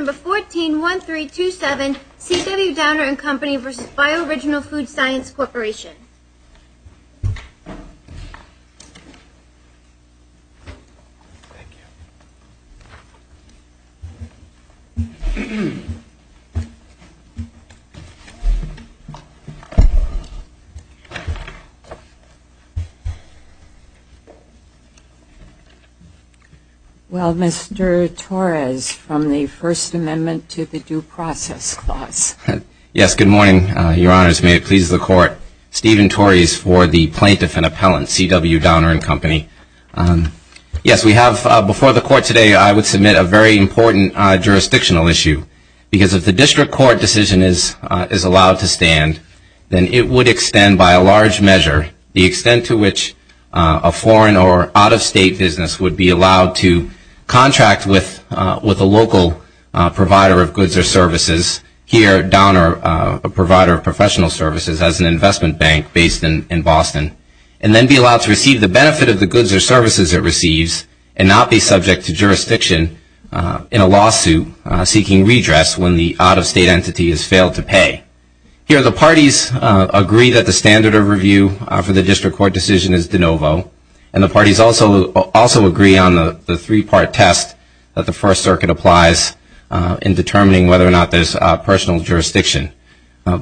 141327 C.W. Downer & Company v. Bioriginal Food & Science Corporation. Well, Mr. Torres, from the First Amendment to the Due Process Clause. Yes, good morning, Your Honors. May it please the Court. Stephen Torres for the Plaintiff and Appellant, C.W. Downer & Company. Yes, we have before the Court today, I would submit a very important jurisdictional issue. Because if the District Court decision is allowed to stand, then it would extend by a large measure, the extent to which a foreign or out-of-state business would be allowed to contract with a local provider of goods or services, here, Downer, a provider of professional services, as an investment bank based in Boston, and then be allowed to receive the benefit of the goods or services it receives, and not be subject to jurisdiction in a lawsuit seeking redress when the out-of-state entity has failed to pay. Here, the parties agree that the standard of review for the District Court decision is de novo, and the parties also agree on the three-part test that the First Circuit applies in determining whether or not there's personal jurisdiction.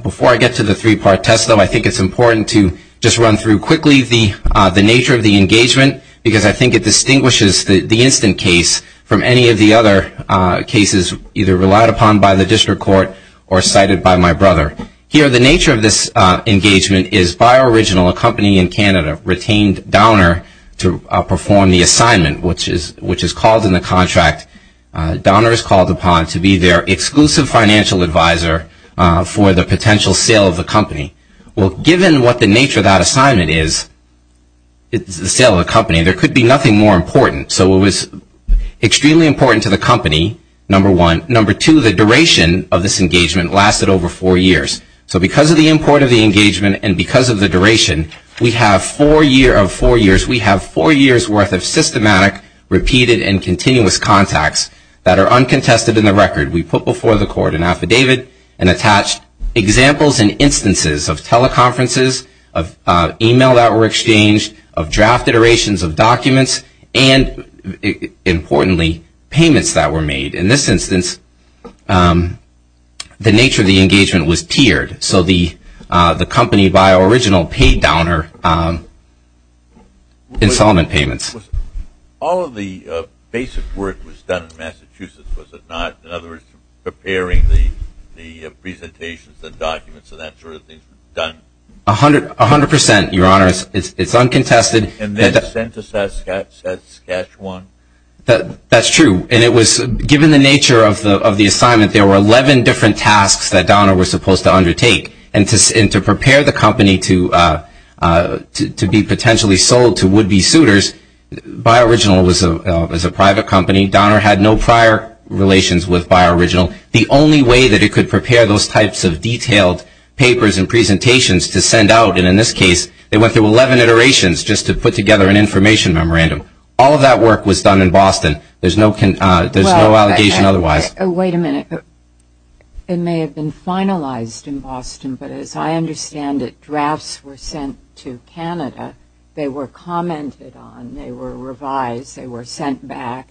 Before I get to the three-part test, though, I think it's important to just run through quickly the nature of the engagement, because I think it distinguishes the instant case from any of the other cases, either relied upon by the District Court or cited by my brother. Here, the nature of this engagement is, by original, a company in Canada retained Downer to perform the assignment, which is called in the contract, Downer is called upon to be their exclusive financial advisor for the potential sale of the company. Well, given what the nature of that assignment is, it's the sale of the company. There could be nothing more important, so it was extremely important to the company, number one. Number two, the duration of this engagement lasted over four years. So because of the import of the engagement and because of the duration, we have four years worth of systematic, repeated, and continuous contacts that are uncontested in the record. We put before the court an affidavit and attached examples and instances of teleconferences, of email that were exchanged, of draft iterations of documents, and importantly, payments that were made. In this instance, the nature of the engagement was tiered. So the company, by original, paid Downer installment payments. All of the basic work was done in Massachusetts, was it not? In other words, preparing the presentations, the documents, and that sort of thing was done? A hundred percent, Your Honor. It's uncontested. And then sent to Saskatchewan? That's true. And it was given the nature of the assignment, there were 11 different tasks that Downer was supposed to undertake. And to prepare the company to be potentially sold to would-be suitors, by original was a private company. Downer had no prior relations with by original. The only way that it could prepare those types of detailed papers and presentations to send out, and in this case, they went through 11 iterations just to put together an information memorandum. All of that work was done in Boston. There's no allegation otherwise. Wait a minute. It may have been finalized in Boston, but as I understand it, drafts were sent to Canada. They were commented on. They were revised. They were sent back.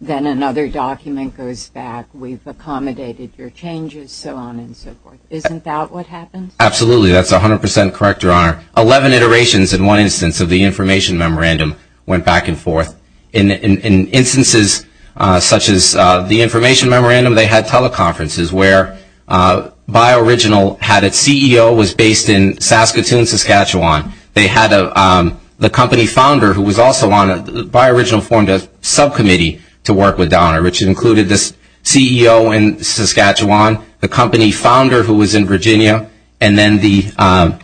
Then another document goes back. We've accommodated your changes, so on and so forth. Isn't that what happened? Absolutely. That's a hundred percent correct, Your Honor. Eleven iterations in one instance of the information memorandum went back and forth. In instances such as the information memorandum, they had teleconferences where by original had its CEO, was based in Saskatoon, Saskatchewan. They had the company founder who was also on it. By original formed a subcommittee to work with Downer, which included the CEO in Saskatchewan, the company founder who was in Virginia, and then the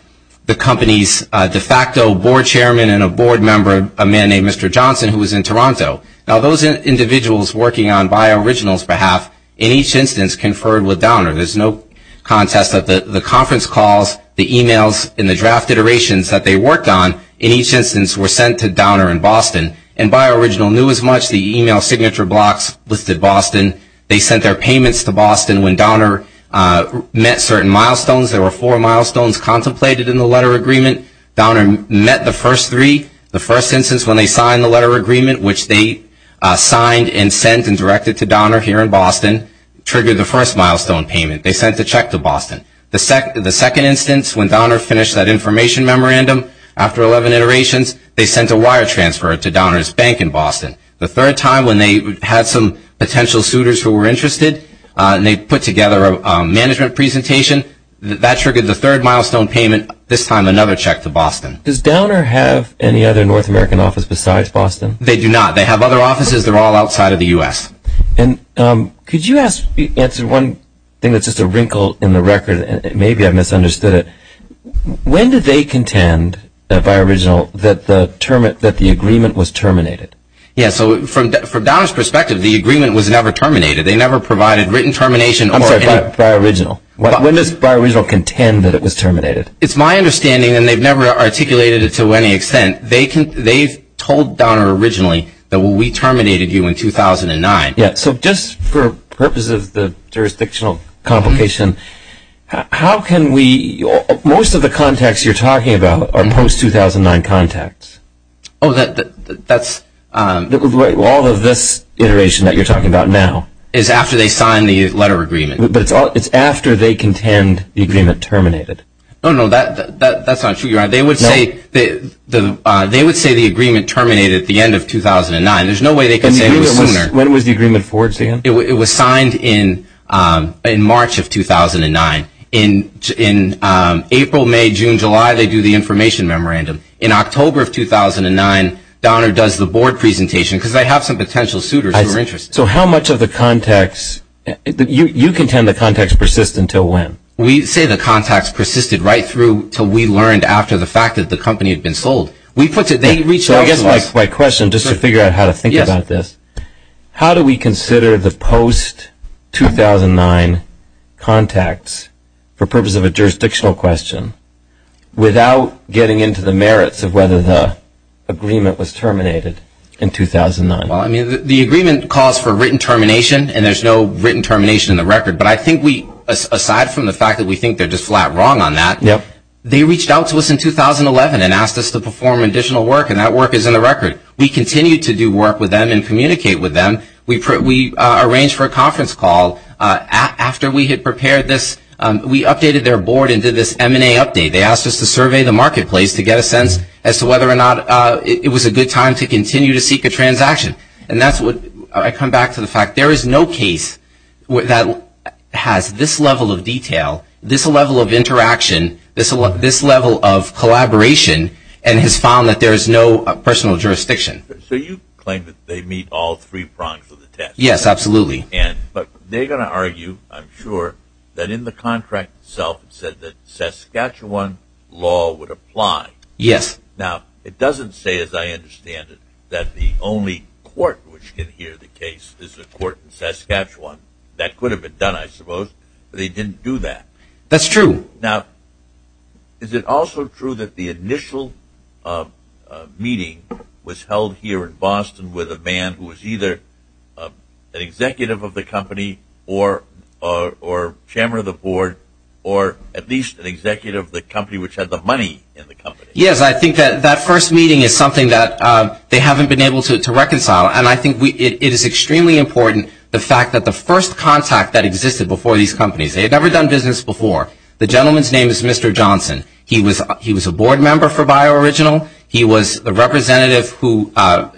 company's de facto board chairman and a board member, a man named Mr. Johnson, who was in Toronto. Now, those individuals working on by original's behalf in each instance conferred with Downer. There's no contest that the conference calls, the emails, and the draft iterations that they worked on in each instance were sent to Downer in Boston, and by original knew as much. The email signature blocks listed Boston. They sent their payments to Boston when Downer met certain milestones. There were four milestones contemplated in the letter agreement. Downer met the first three. The first instance, when they signed the letter agreement, which they signed and sent and directed to Downer here in Boston, triggered the first milestone payment. They sent the check to Boston. The second instance, when Downer finished that information memorandum after 11 iterations, they sent a wire transfer to Downer's bank in Boston. The third time, when they had some potential suitors who were interested, and they put together a management presentation, that triggered the third milestone payment, and this time another check to Boston. Does Downer have any other North American office besides Boston? They do not. They have other offices. They're all outside of the U.S. Could you answer one thing that's just a wrinkle in the record, and maybe I've misunderstood it. When did they contend, by original, that the agreement was terminated? Yes, so from Downer's perspective, the agreement was never terminated. They never provided written termination. I'm sorry, by original. When does by original contend that it was terminated? It's my understanding, and they've never articulated it to any extent, they've told Downer originally that we terminated you in 2009. Yes, so just for purpose of the jurisdictional complication, how can we, most of the contacts you're talking about are post-2009 contacts. Oh, that's. All of this iteration that you're talking about now. Is after they sign the letter of agreement. But it's after they contend the agreement terminated. Oh, no, that's not true. They would say the agreement terminated at the end of 2009. There's no way they could say it was sooner. When was the agreement forged again? It was signed in March of 2009. In April, May, June, July, they do the information memorandum. In October of 2009, Downer does the board presentation, because they have some potential suitors who are interested. So how much of the contacts, you contend the contacts persist until when? We say the contacts persisted right through until we learned after the fact that the company had been sold. They reached out to us. So I guess my question, just to figure out how to think about this, how do we consider the post-2009 contacts for purpose of a jurisdictional question without getting into the merits of whether the agreement was terminated in 2009? Well, I mean, the agreement calls for written termination, and there's no written termination in the record. But I think we, aside from the fact that we think they're just flat wrong on that, they reached out to us in 2011 and asked us to perform additional work, and that work is in the record. We continue to do work with them and communicate with them. We arranged for a conference call after we had prepared this. We updated their board and did this M&A update. They asked us to survey the marketplace to get a sense as to whether or not it was a good time to continue to seek a transaction. I come back to the fact there is no case that has this level of detail, this level of interaction, this level of collaboration, and has found that there is no personal jurisdiction. So you claim that they meet all three prongs of the test? Yes, absolutely. But they're going to argue, I'm sure, that in the contract itself it said that Saskatchewan law would apply. Yes. Now, it doesn't say, as I understand it, that the only court which can hear the case is the court in Saskatchewan. That could have been done, I suppose, but they didn't do that. That's true. Now, is it also true that the initial meeting was held here in Boston with a man who was either an executive of the company or chairman of the board or at least an executive of the company which had the money in the company? Yes, I think that that first meeting is something that they haven't been able to reconcile. And I think it is extremely important, the fact that the first contact that existed before these companies, they had never done business before, the gentleman's name is Mr. Johnson. He was a board member for BioOriginal. He was the representative who was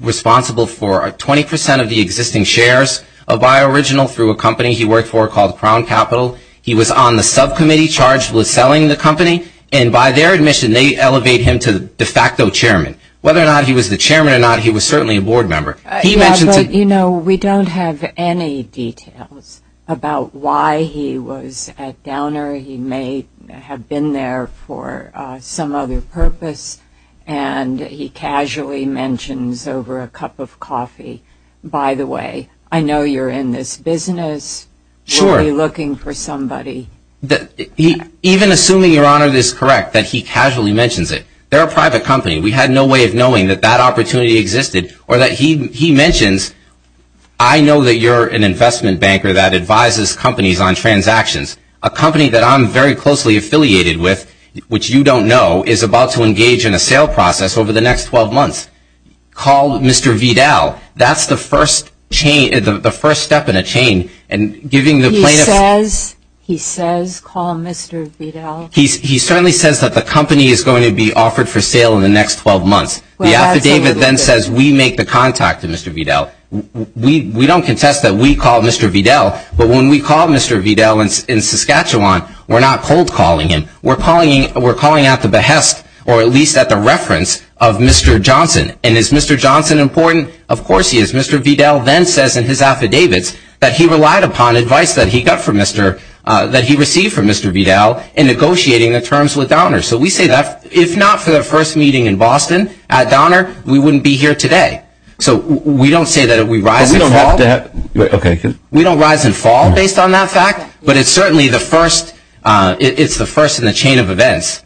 responsible for 20% of the existing shares of BioOriginal through a company he worked for called Crown Capital. He was on the subcommittee charged with selling the company. And by their admission, they elevate him to de facto chairman. Whether or not he was the chairman or not, he was certainly a board member. He mentions it. You know, we don't have any details about why he was at Downer. He may have been there for some other purpose. And he casually mentions over a cup of coffee, by the way, I know you're in this business. Sure. Probably looking for somebody. Even assuming, Your Honor, this is correct, that he casually mentions it. They're a private company. We had no way of knowing that that opportunity existed or that he mentions. I know that you're an investment banker that advises companies on transactions. A company that I'm very closely affiliated with, which you don't know, is about to engage in a sale process over the next 12 months called Mr. Vidal. That's the first step in a chain. He says call Mr. Vidal. He certainly says that the company is going to be offered for sale in the next 12 months. The affidavit then says we make the contact to Mr. Vidal. We don't contest that we call Mr. Vidal. But when we call Mr. Vidal in Saskatchewan, we're not cold calling him. We're calling out the behest or at least at the reference of Mr. Johnson. And is Mr. Johnson important? Of course he is. Mr. Vidal then says in his affidavits that he relied upon advice that he got from Mr. that he received from Mr. Vidal in negotiating the terms with Donner. So we say that if not for the first meeting in Boston at Donner, we wouldn't be here today. So we don't say that we rise and fall. We don't rise and fall based on that fact, but it's certainly the first. It's the first in the chain of events.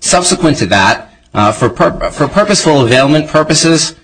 Subsequent to that, for purposeful availment purposes,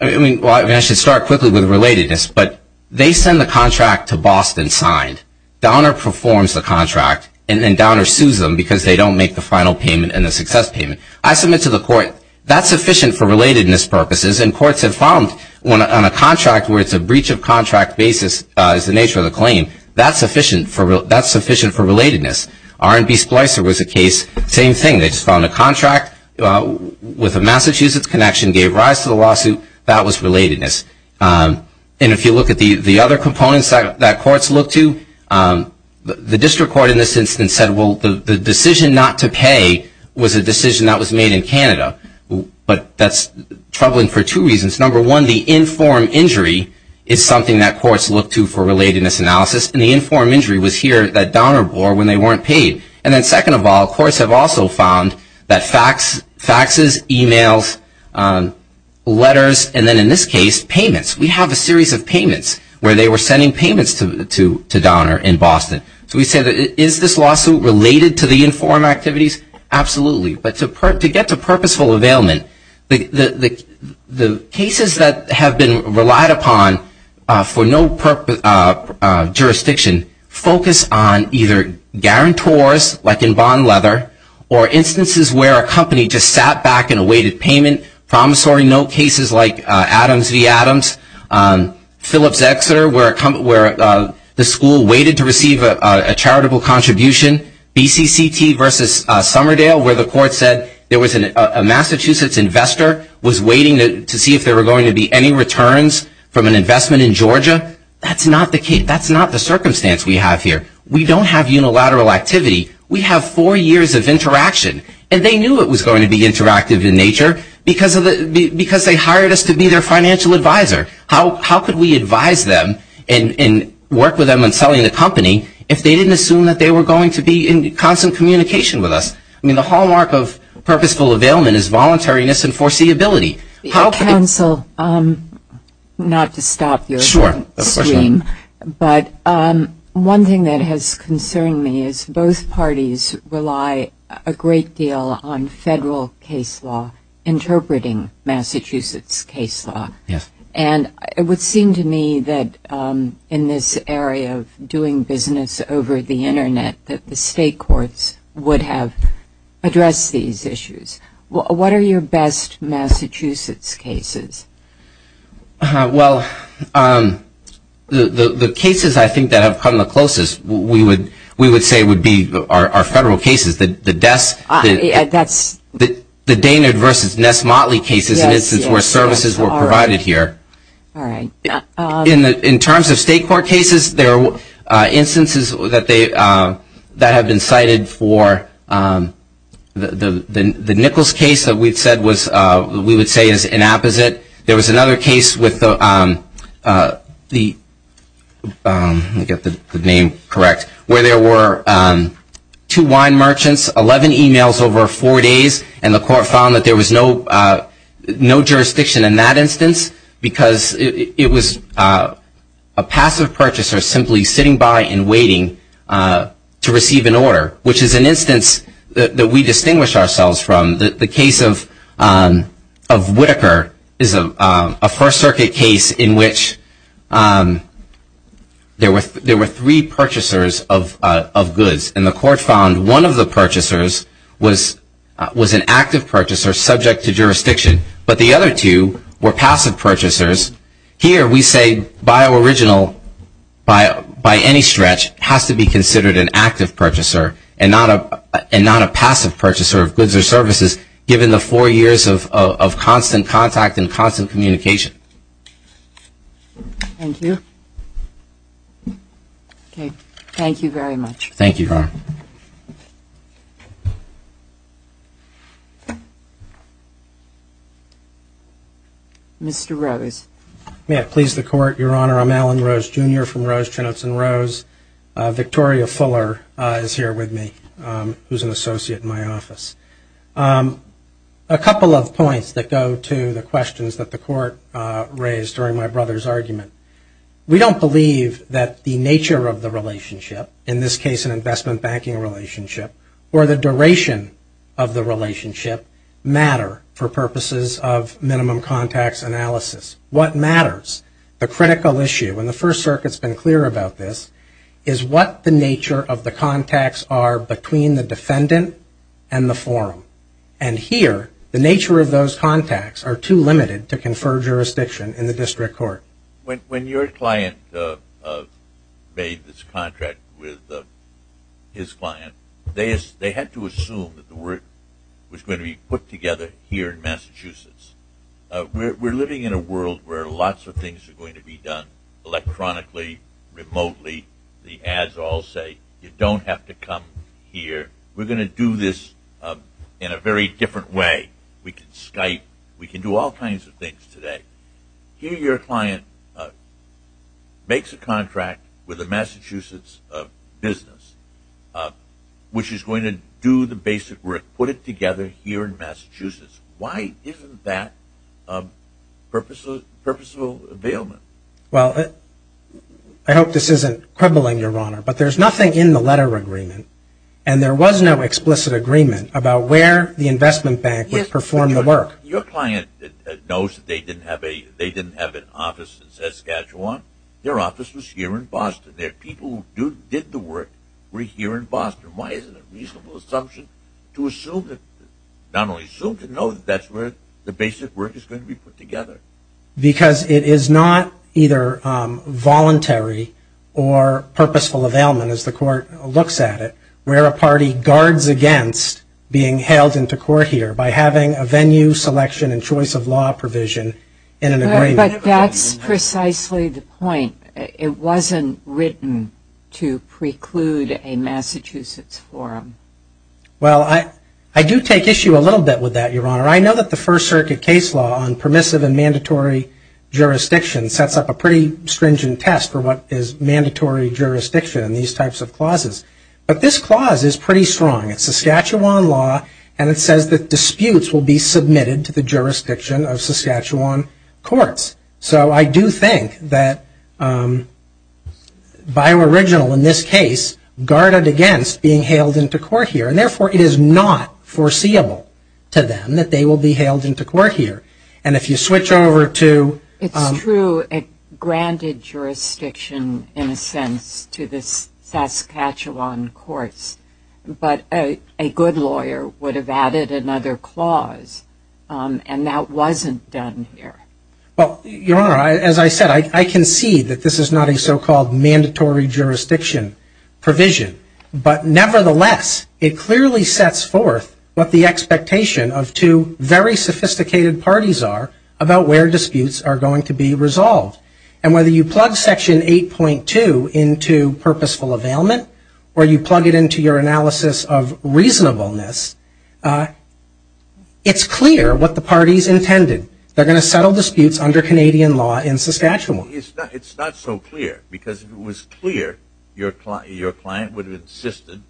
I should start quickly with relatedness, but they send the contract to Boston signed. Donner performs the contract, and then Donner sues them because they don't make the final payment and the success payment. I submit to the court that's sufficient for relatedness purposes, and courts have found on a contract where it's a breach of contract basis is the nature of the claim, that's sufficient for relatedness. R&B Splicer was a case, same thing. They just found a contract with a Massachusetts connection, gave rise to the lawsuit. That was relatedness. And if you look at the other components that courts look to, the district court in this instance said, well, the decision not to pay was a decision that was made in Canada, but that's troubling for two reasons. Number one, the informed injury is something that courts look to for relatedness analysis, and the informed injury was here that Donner bore when they weren't paid. And then second of all, courts have also found that faxes, emails, letters, and then in this case, payments. We have a series of payments where they were sending payments to Donner in Boston. So we say, is this lawsuit related to the informed activities? Absolutely. But to get to purposeful availment, the cases that have been relied upon for no jurisdiction focus on either guarantors, like in Bond Leather, or instances where a company just sat back and awaited payment, promissory note cases like Adams v. Adams, Phillips Exeter where the school waited to receive a charitable contribution, BCCT versus Summerdale where the court said there was a Massachusetts investor was waiting to see if there were going to be any returns from an investment in Georgia. That's not the case. That's not the circumstance we have here. We don't have unilateral activity. We have four years of interaction. And they knew it was going to be interactive in nature because they hired us to be their financial advisor. How could we advise them and work with them in selling the company if they didn't assume that they were going to be in constant communication with us? I mean, the hallmark of purposeful availment is voluntariness and foreseeability. Counsel, not to stop your stream, but one thing that has concerned me is both parties rely a great deal on federal case law interpreting Massachusetts case law. And it would seem to me that in this area of doing business over the Internet, that the state courts would have addressed these issues. What are your best Massachusetts cases? Well, the cases I think that have come the closest we would say would be our federal cases, the Dainard versus Ness Motley cases, an instance where services were provided here. All right. In terms of state court cases, there are instances that have been cited for the Nichols case that we would say is inapposite. There was another case with the, let me get the name correct, where there were two wine merchants, 11 emails over four days, and the court found that there was no jurisdiction in that instance because it was a passive purchaser simply sitting by and waiting to receive an order, which is an instance that we distinguish ourselves from. The case of Whitaker is a First Circuit case in which there were three purchasers of goods, and the court found one of the purchasers was an active purchaser subject to jurisdiction, but the other two were passive purchasers. Here we say by our original, by any stretch, has to be considered an active purchaser and not a passive purchaser of goods or services given the four years of constant contact and constant communication. Thank you. Okay. Thank you very much. Thank you, Your Honor. Mr. Rose. May it please the Court, Your Honor. I'm Alan Rose, Jr. from Rose, Chinooks & Rose. Victoria Fuller is here with me, who is an associate in my office. A couple of points that go to the questions that the Court raised during my brother's argument. We don't believe that the nature of the relationship, in this case an investment banking relationship, or the duration of the relationship matter for purposes of minimum contacts analysis. What matters, the critical issue, and the First Circuit's been clear about this, is what the nature of the contacts are between the defendant and the forum. And here, the nature of those contacts are too limited to confer jurisdiction in the district court. When your client made this contract with his client, they had to assume that the work was going to be put together here in Massachusetts. We're living in a world where lots of things are going to be done electronically, remotely. The ads all say, you don't have to come here. We're going to do this in a very different way. We can Skype. We can do all kinds of things today. Here your client makes a contract with a Massachusetts business, which is going to do the basic work, put it together here in Massachusetts. Why isn't that purposeful availment? Well, I hope this isn't quibbling, Your Honor, but there's nothing in the letter agreement. And there was no explicit agreement about where the investment bank would perform the work. Your client knows that they didn't have an office in Saskatchewan. Their office was here in Boston. Their people who did the work were here in Boston. Why is it a reasonable assumption to assume, not only assume, to know that that's where the basic work is going to be put together? Because it is not either voluntary or purposeful availment, as the court looks at it, where a party guards against being hailed into court here by having a venue selection and choice of law provision in an agreement. But that's precisely the point. It wasn't written to preclude a Massachusetts forum. Well, I do take issue a little bit with that, Your Honor. I know that the First Circuit case law on permissive and mandatory jurisdiction sets up a pretty stringent test for what is mandatory jurisdiction in these types of clauses. But this clause is pretty strong. It's Saskatchewan law, and it says that disputes will be submitted to the jurisdiction of Saskatchewan courts. So I do think that Bio-Original, in this case, guarded against being hailed into court here. And therefore, it is not foreseeable to them that they will be hailed into court here. And if you switch over to- It's true. It granted jurisdiction, in a sense, to the Saskatchewan courts. But a good lawyer would have added another clause, and that wasn't done here. Well, Your Honor, as I said, I concede that this is not a so-called mandatory jurisdiction provision. But nevertheless, it clearly sets forth what the expectation of two very sophisticated parties are about where disputes are going to be resolved. And whether you plug Section 8.2 into purposeful availment or you plug it into your analysis of reasonableness, it's clear what the parties intended. They're going to settle disputes under Canadian law in Saskatchewan. It's not so clear, because if it was clear, your client would have insisted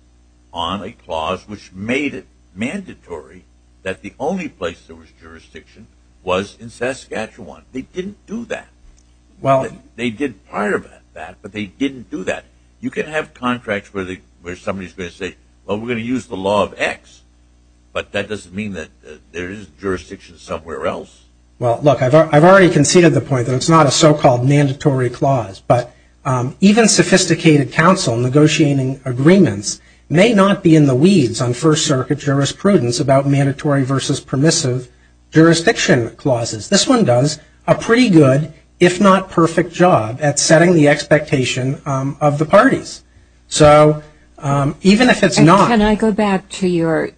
on a clause which made it mandatory that the only place there was jurisdiction was in Saskatchewan. They didn't do that. They did part of that, but they didn't do that. You can have contracts where somebody's going to say, well, we're going to use the law of X, but that doesn't mean that there is jurisdiction somewhere else. Well, look, I've already conceded the point that it's not a so-called mandatory clause. But even sophisticated counsel negotiating agreements may not be in the weeds on First Circuit jurisprudence about mandatory versus permissive jurisdiction clauses. This one does a pretty good, if not perfect, job at setting the expectation of the parties. So even if it's not- Can I go back to your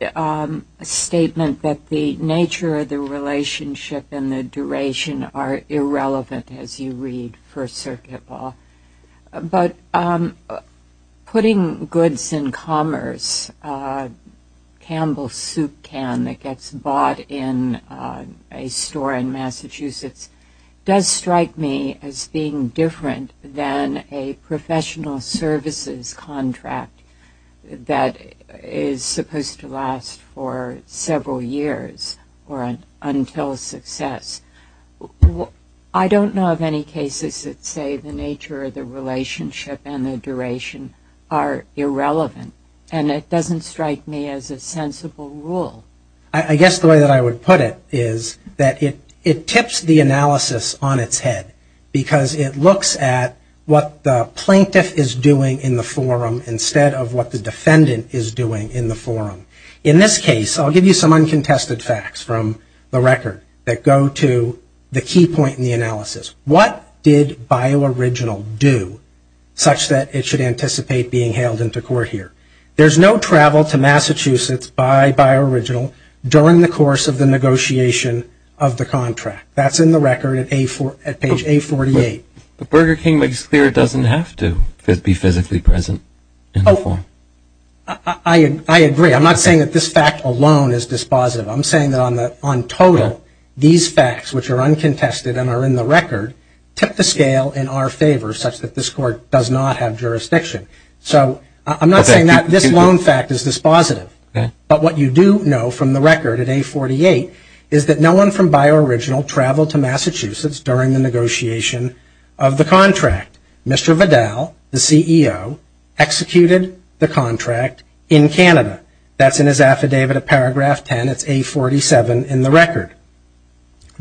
statement that the nature of the relationship and the duration are irrelevant as you read First Circuit law? But putting goods in commerce, Campbell's soup can that gets bought in a store in Massachusetts, does strike me as being different than a professional services contract that is supposed to last for several years or until success. I don't know of any cases that say the nature of the relationship and the duration are irrelevant, and it doesn't strike me as a sensible rule. I guess the way that I would put it is that it tips the analysis on its head because it looks at what the plaintiff is doing in the forum instead of what the defendant is doing in the forum. In this case, I'll give you some uncontested facts from the record that go to the key point in the analysis. What did BioOriginal do such that it should anticipate being hailed into court here? There's no travel to Massachusetts by BioOriginal during the course of the negotiation of the contract. That's in the record at page A48. But Burger King makes clear it doesn't have to be physically present in the forum. I agree. I'm not saying that this fact alone is dispositive. I'm saying that on total, these facts, which are uncontested and are in the record, tip the scale in our favor such that this court does not have jurisdiction. I'm not saying that this lone fact is dispositive. But what you do know from the record at A48 is that no one from BioOriginal traveled to Massachusetts during the negotiation of the contract. Mr. Vidal, the CEO, executed the contract in Canada. That's in his affidavit at paragraph 10. It's A47 in the record.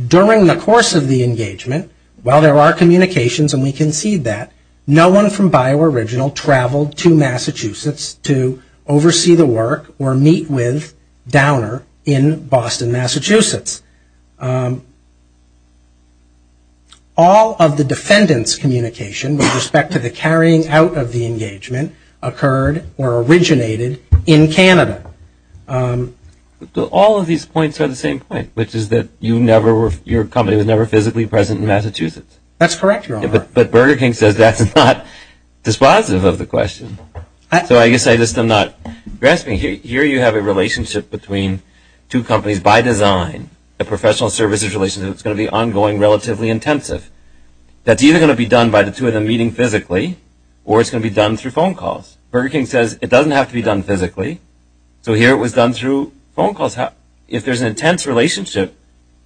During the course of the engagement, while there are communications and we concede that, no one from BioOriginal traveled to Massachusetts to oversee the work or meet with Downer in Boston, Massachusetts. All of the defendant's communication with respect to the carrying out of the engagement occurred or originated in Canada. All of these points are the same point, which is that your company was never physically present in Massachusetts. That's correct, Your Honor. But Burger King says that's not dispositive of the question. So I guess I just am not grasping. Here you have a relationship between two companies by design, a professional services relationship that's going to be ongoing, relatively intensive. That's either going to be done by the two of them meeting physically or it's going to be done through phone calls. Burger King says it doesn't have to be done physically. So here it was done through phone calls. If there's an intense relationship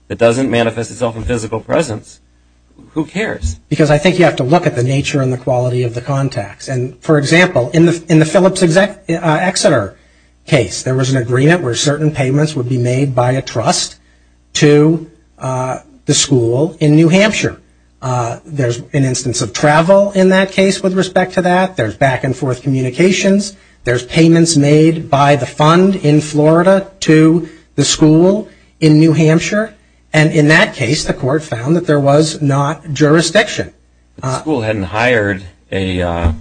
that doesn't manifest itself in physical presence, who cares? Because I think you have to look at the nature and the quality of the contacts. And, for example, in the Phillips Exeter case, there was an agreement where certain payments would be made by a trust to the school in New Hampshire. There's an instance of travel in that case with respect to that. There's back-and-forth communications. There's payments made by the fund in Florida to the school in New Hampshire. And in that case, the court found that there was not jurisdiction. The school hadn't hired a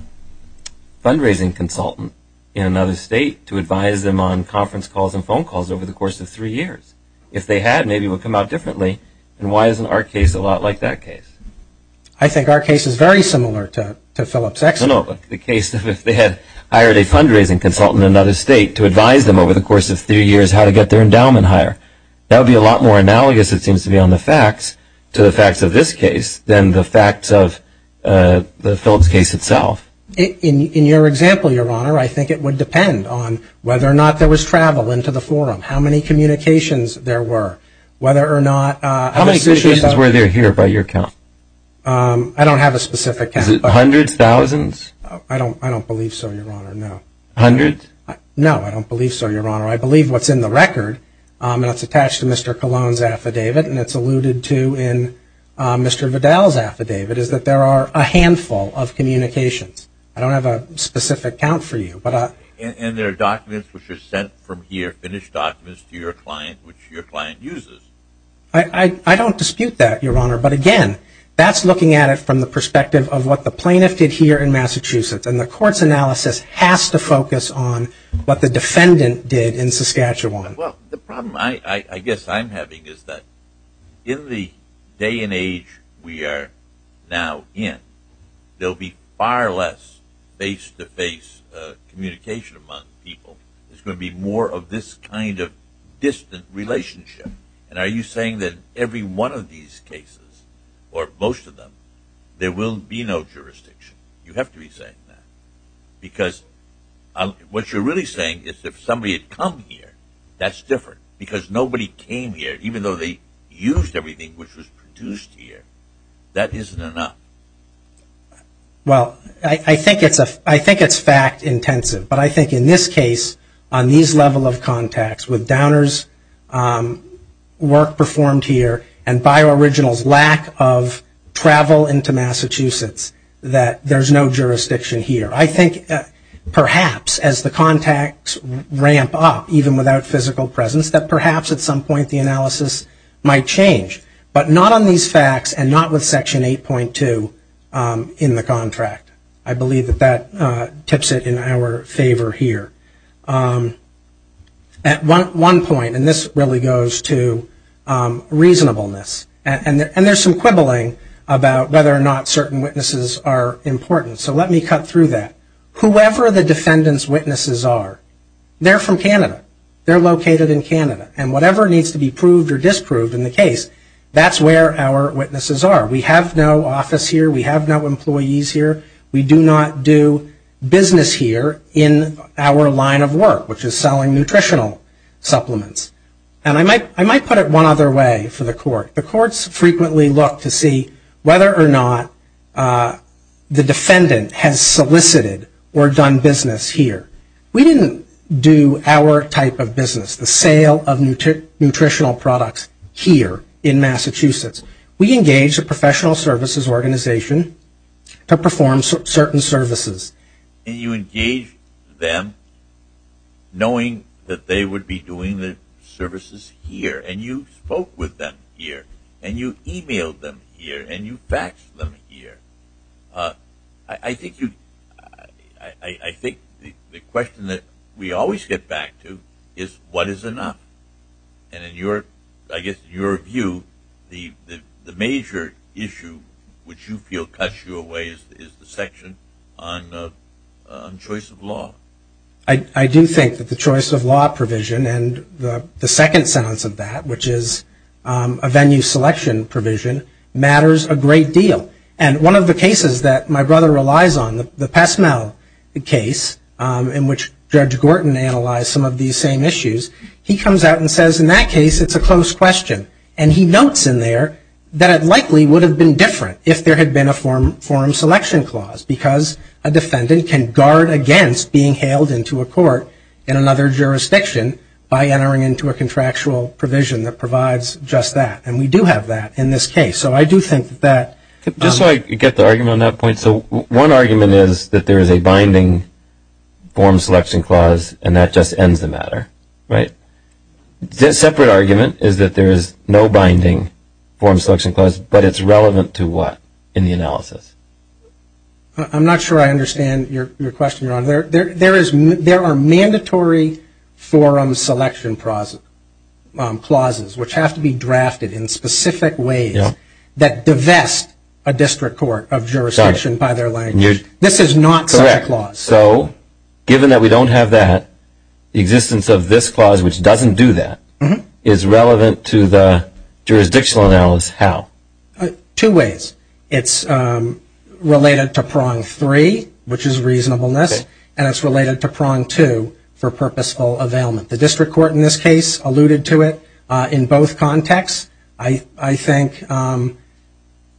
fundraising consultant in another state to advise them on conference calls and phone calls over the course of three years. If they had, maybe it would come out differently. And why isn't our case a lot like that case? I think our case is very similar to Phillips Exeter. No, no, the case of if they had hired a fundraising consultant in another state to advise them over the course of three years how to get their endowment higher. That would be a lot more analogous, it seems to me, on the facts to the facts of this case than the facts of the Phillips case itself. In your example, Your Honor, I think it would depend on whether or not there was travel into the forum, how many communications there were, whether or not other institutions were there. How many communications were there here by your count? I don't have a specific count. Is it hundreds, thousands? I don't believe so, Your Honor, no. Hundreds? No, I don't believe so, Your Honor. I believe what's in the record, and it's attached to Mr. Colon's affidavit and it's alluded to in Mr. Vidal's affidavit, is that there are a handful of communications. I don't have a specific count for you. And there are documents which are sent from here, finished documents to your client which your client uses. I don't dispute that, Your Honor. But, again, that's looking at it from the perspective of what the plaintiff did here in Massachusetts. And the court's analysis has to focus on what the defendant did in Saskatchewan. Well, the problem I guess I'm having is that in the day and age we are now in, there will be far less face-to-face communication among people. There's going to be more of this kind of distant relationship. And are you saying that every one of these cases, or most of them, there will be no jurisdiction? You have to be saying that. Because what you're really saying is if somebody had come here, that's different. Because nobody came here, even though they used everything which was produced here. That isn't enough. Well, I think it's fact-intensive. But I think in this case, on these level of contacts, with Downer's work performed here and BioOriginal's lack of travel into Massachusetts, that there's no jurisdiction here. I think perhaps as the contacts ramp up, even without physical presence, that perhaps at some point the analysis might change. But not on these facts and not with Section 8.2 in the contract. I believe that that tips it in our favor here. At one point, and this really goes to reasonableness, and there's some quibbling about whether or not certain witnesses are important. So let me cut through that. Whoever the defendant's witnesses are, they're from Canada. They're located in Canada. And whatever needs to be proved or disproved in the case, that's where our witnesses are. We have no office here. We have no employees here. We do not do business here in our line of work, which is selling nutritional supplements. And I might put it one other way for the court. The courts frequently look to see whether or not the defendant has solicited or done business here. We didn't do our type of business, the sale of nutritional products here in Massachusetts. We engaged a professional services organization to perform certain services. And you engaged them knowing that they would be doing the services here. And you spoke with them here. And you emailed them here. And you faxed them here. I think the question that we always get back to is, what is enough? And I guess in your view, the major issue which you feel cuts you away is the section on choice of law. I do think that the choice of law provision and the second sentence of that, which is a venue selection provision, matters a great deal. And one of the cases that my brother relies on, the PestMill case, in which Judge Gorton analyzed some of these same issues, he comes out and says in that case it's a close question. And he notes in there that it likely would have been different if there had been a form selection clause because a defendant can guard against being hailed into a court in another jurisdiction by entering into a contractual provision that provides just that. And we do have that in this case. So I do think that that — Just so I get the argument on that point, so one argument is that there is a binding form selection clause and that just ends the matter, right? The separate argument is that there is no binding form selection clause, but it's relevant to what in the analysis? I'm not sure I understand your question, Your Honor. There are mandatory forum selection clauses which have to be drafted in specific ways that divest a district court of jurisdiction by their language. This is not such a clause. Correct. So given that we don't have that, the existence of this clause, which doesn't do that, is relevant to the jurisdictional analysis how? Two ways. It's related to prong three, which is reasonableness, and it's related to prong two, for purposeful availment. The district court in this case alluded to it in both contexts. I think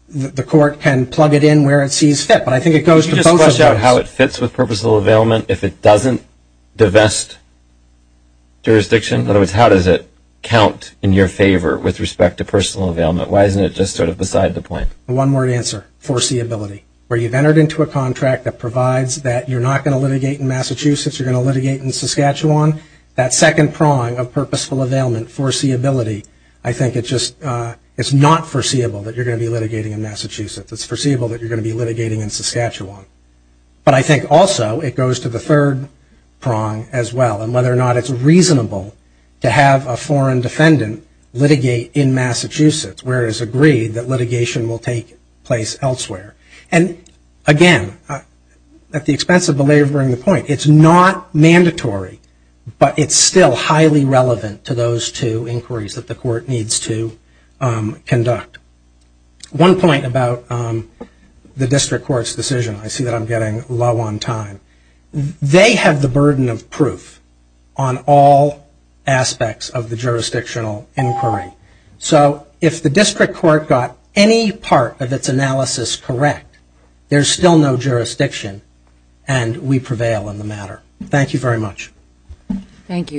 the court can plug it in where it sees fit, but I think it goes to both of those. Can you just flesh out how it fits with purposeful availment if it doesn't divest jurisdiction? In other words, how does it count in your favor with respect to personal availment? Why isn't it just sort of beside the point? One-word answer, foreseeability. Where you've entered into a contract that provides that you're not going to litigate in Massachusetts, you're going to litigate in Saskatchewan, that second prong of purposeful availment, foreseeability, I think it's not foreseeable that you're going to be litigating in Massachusetts. It's foreseeable that you're going to be litigating in Saskatchewan. But I think also it goes to the third prong as well, and whether or not it's reasonable to have a foreign defendant litigate in Massachusetts, where it is agreed that litigation will take place elsewhere. And, again, at the expense of belaboring the point, it's not mandatory, but it's still highly relevant to those two inquiries that the court needs to conduct. One point about the district court's decision. I see that I'm getting low on time. They have the burden of proof on all aspects of the jurisdictional inquiry. So if the district court got any part of its analysis correct, there's still no jurisdiction, and we prevail in the matter. Thank you very much. Thank you.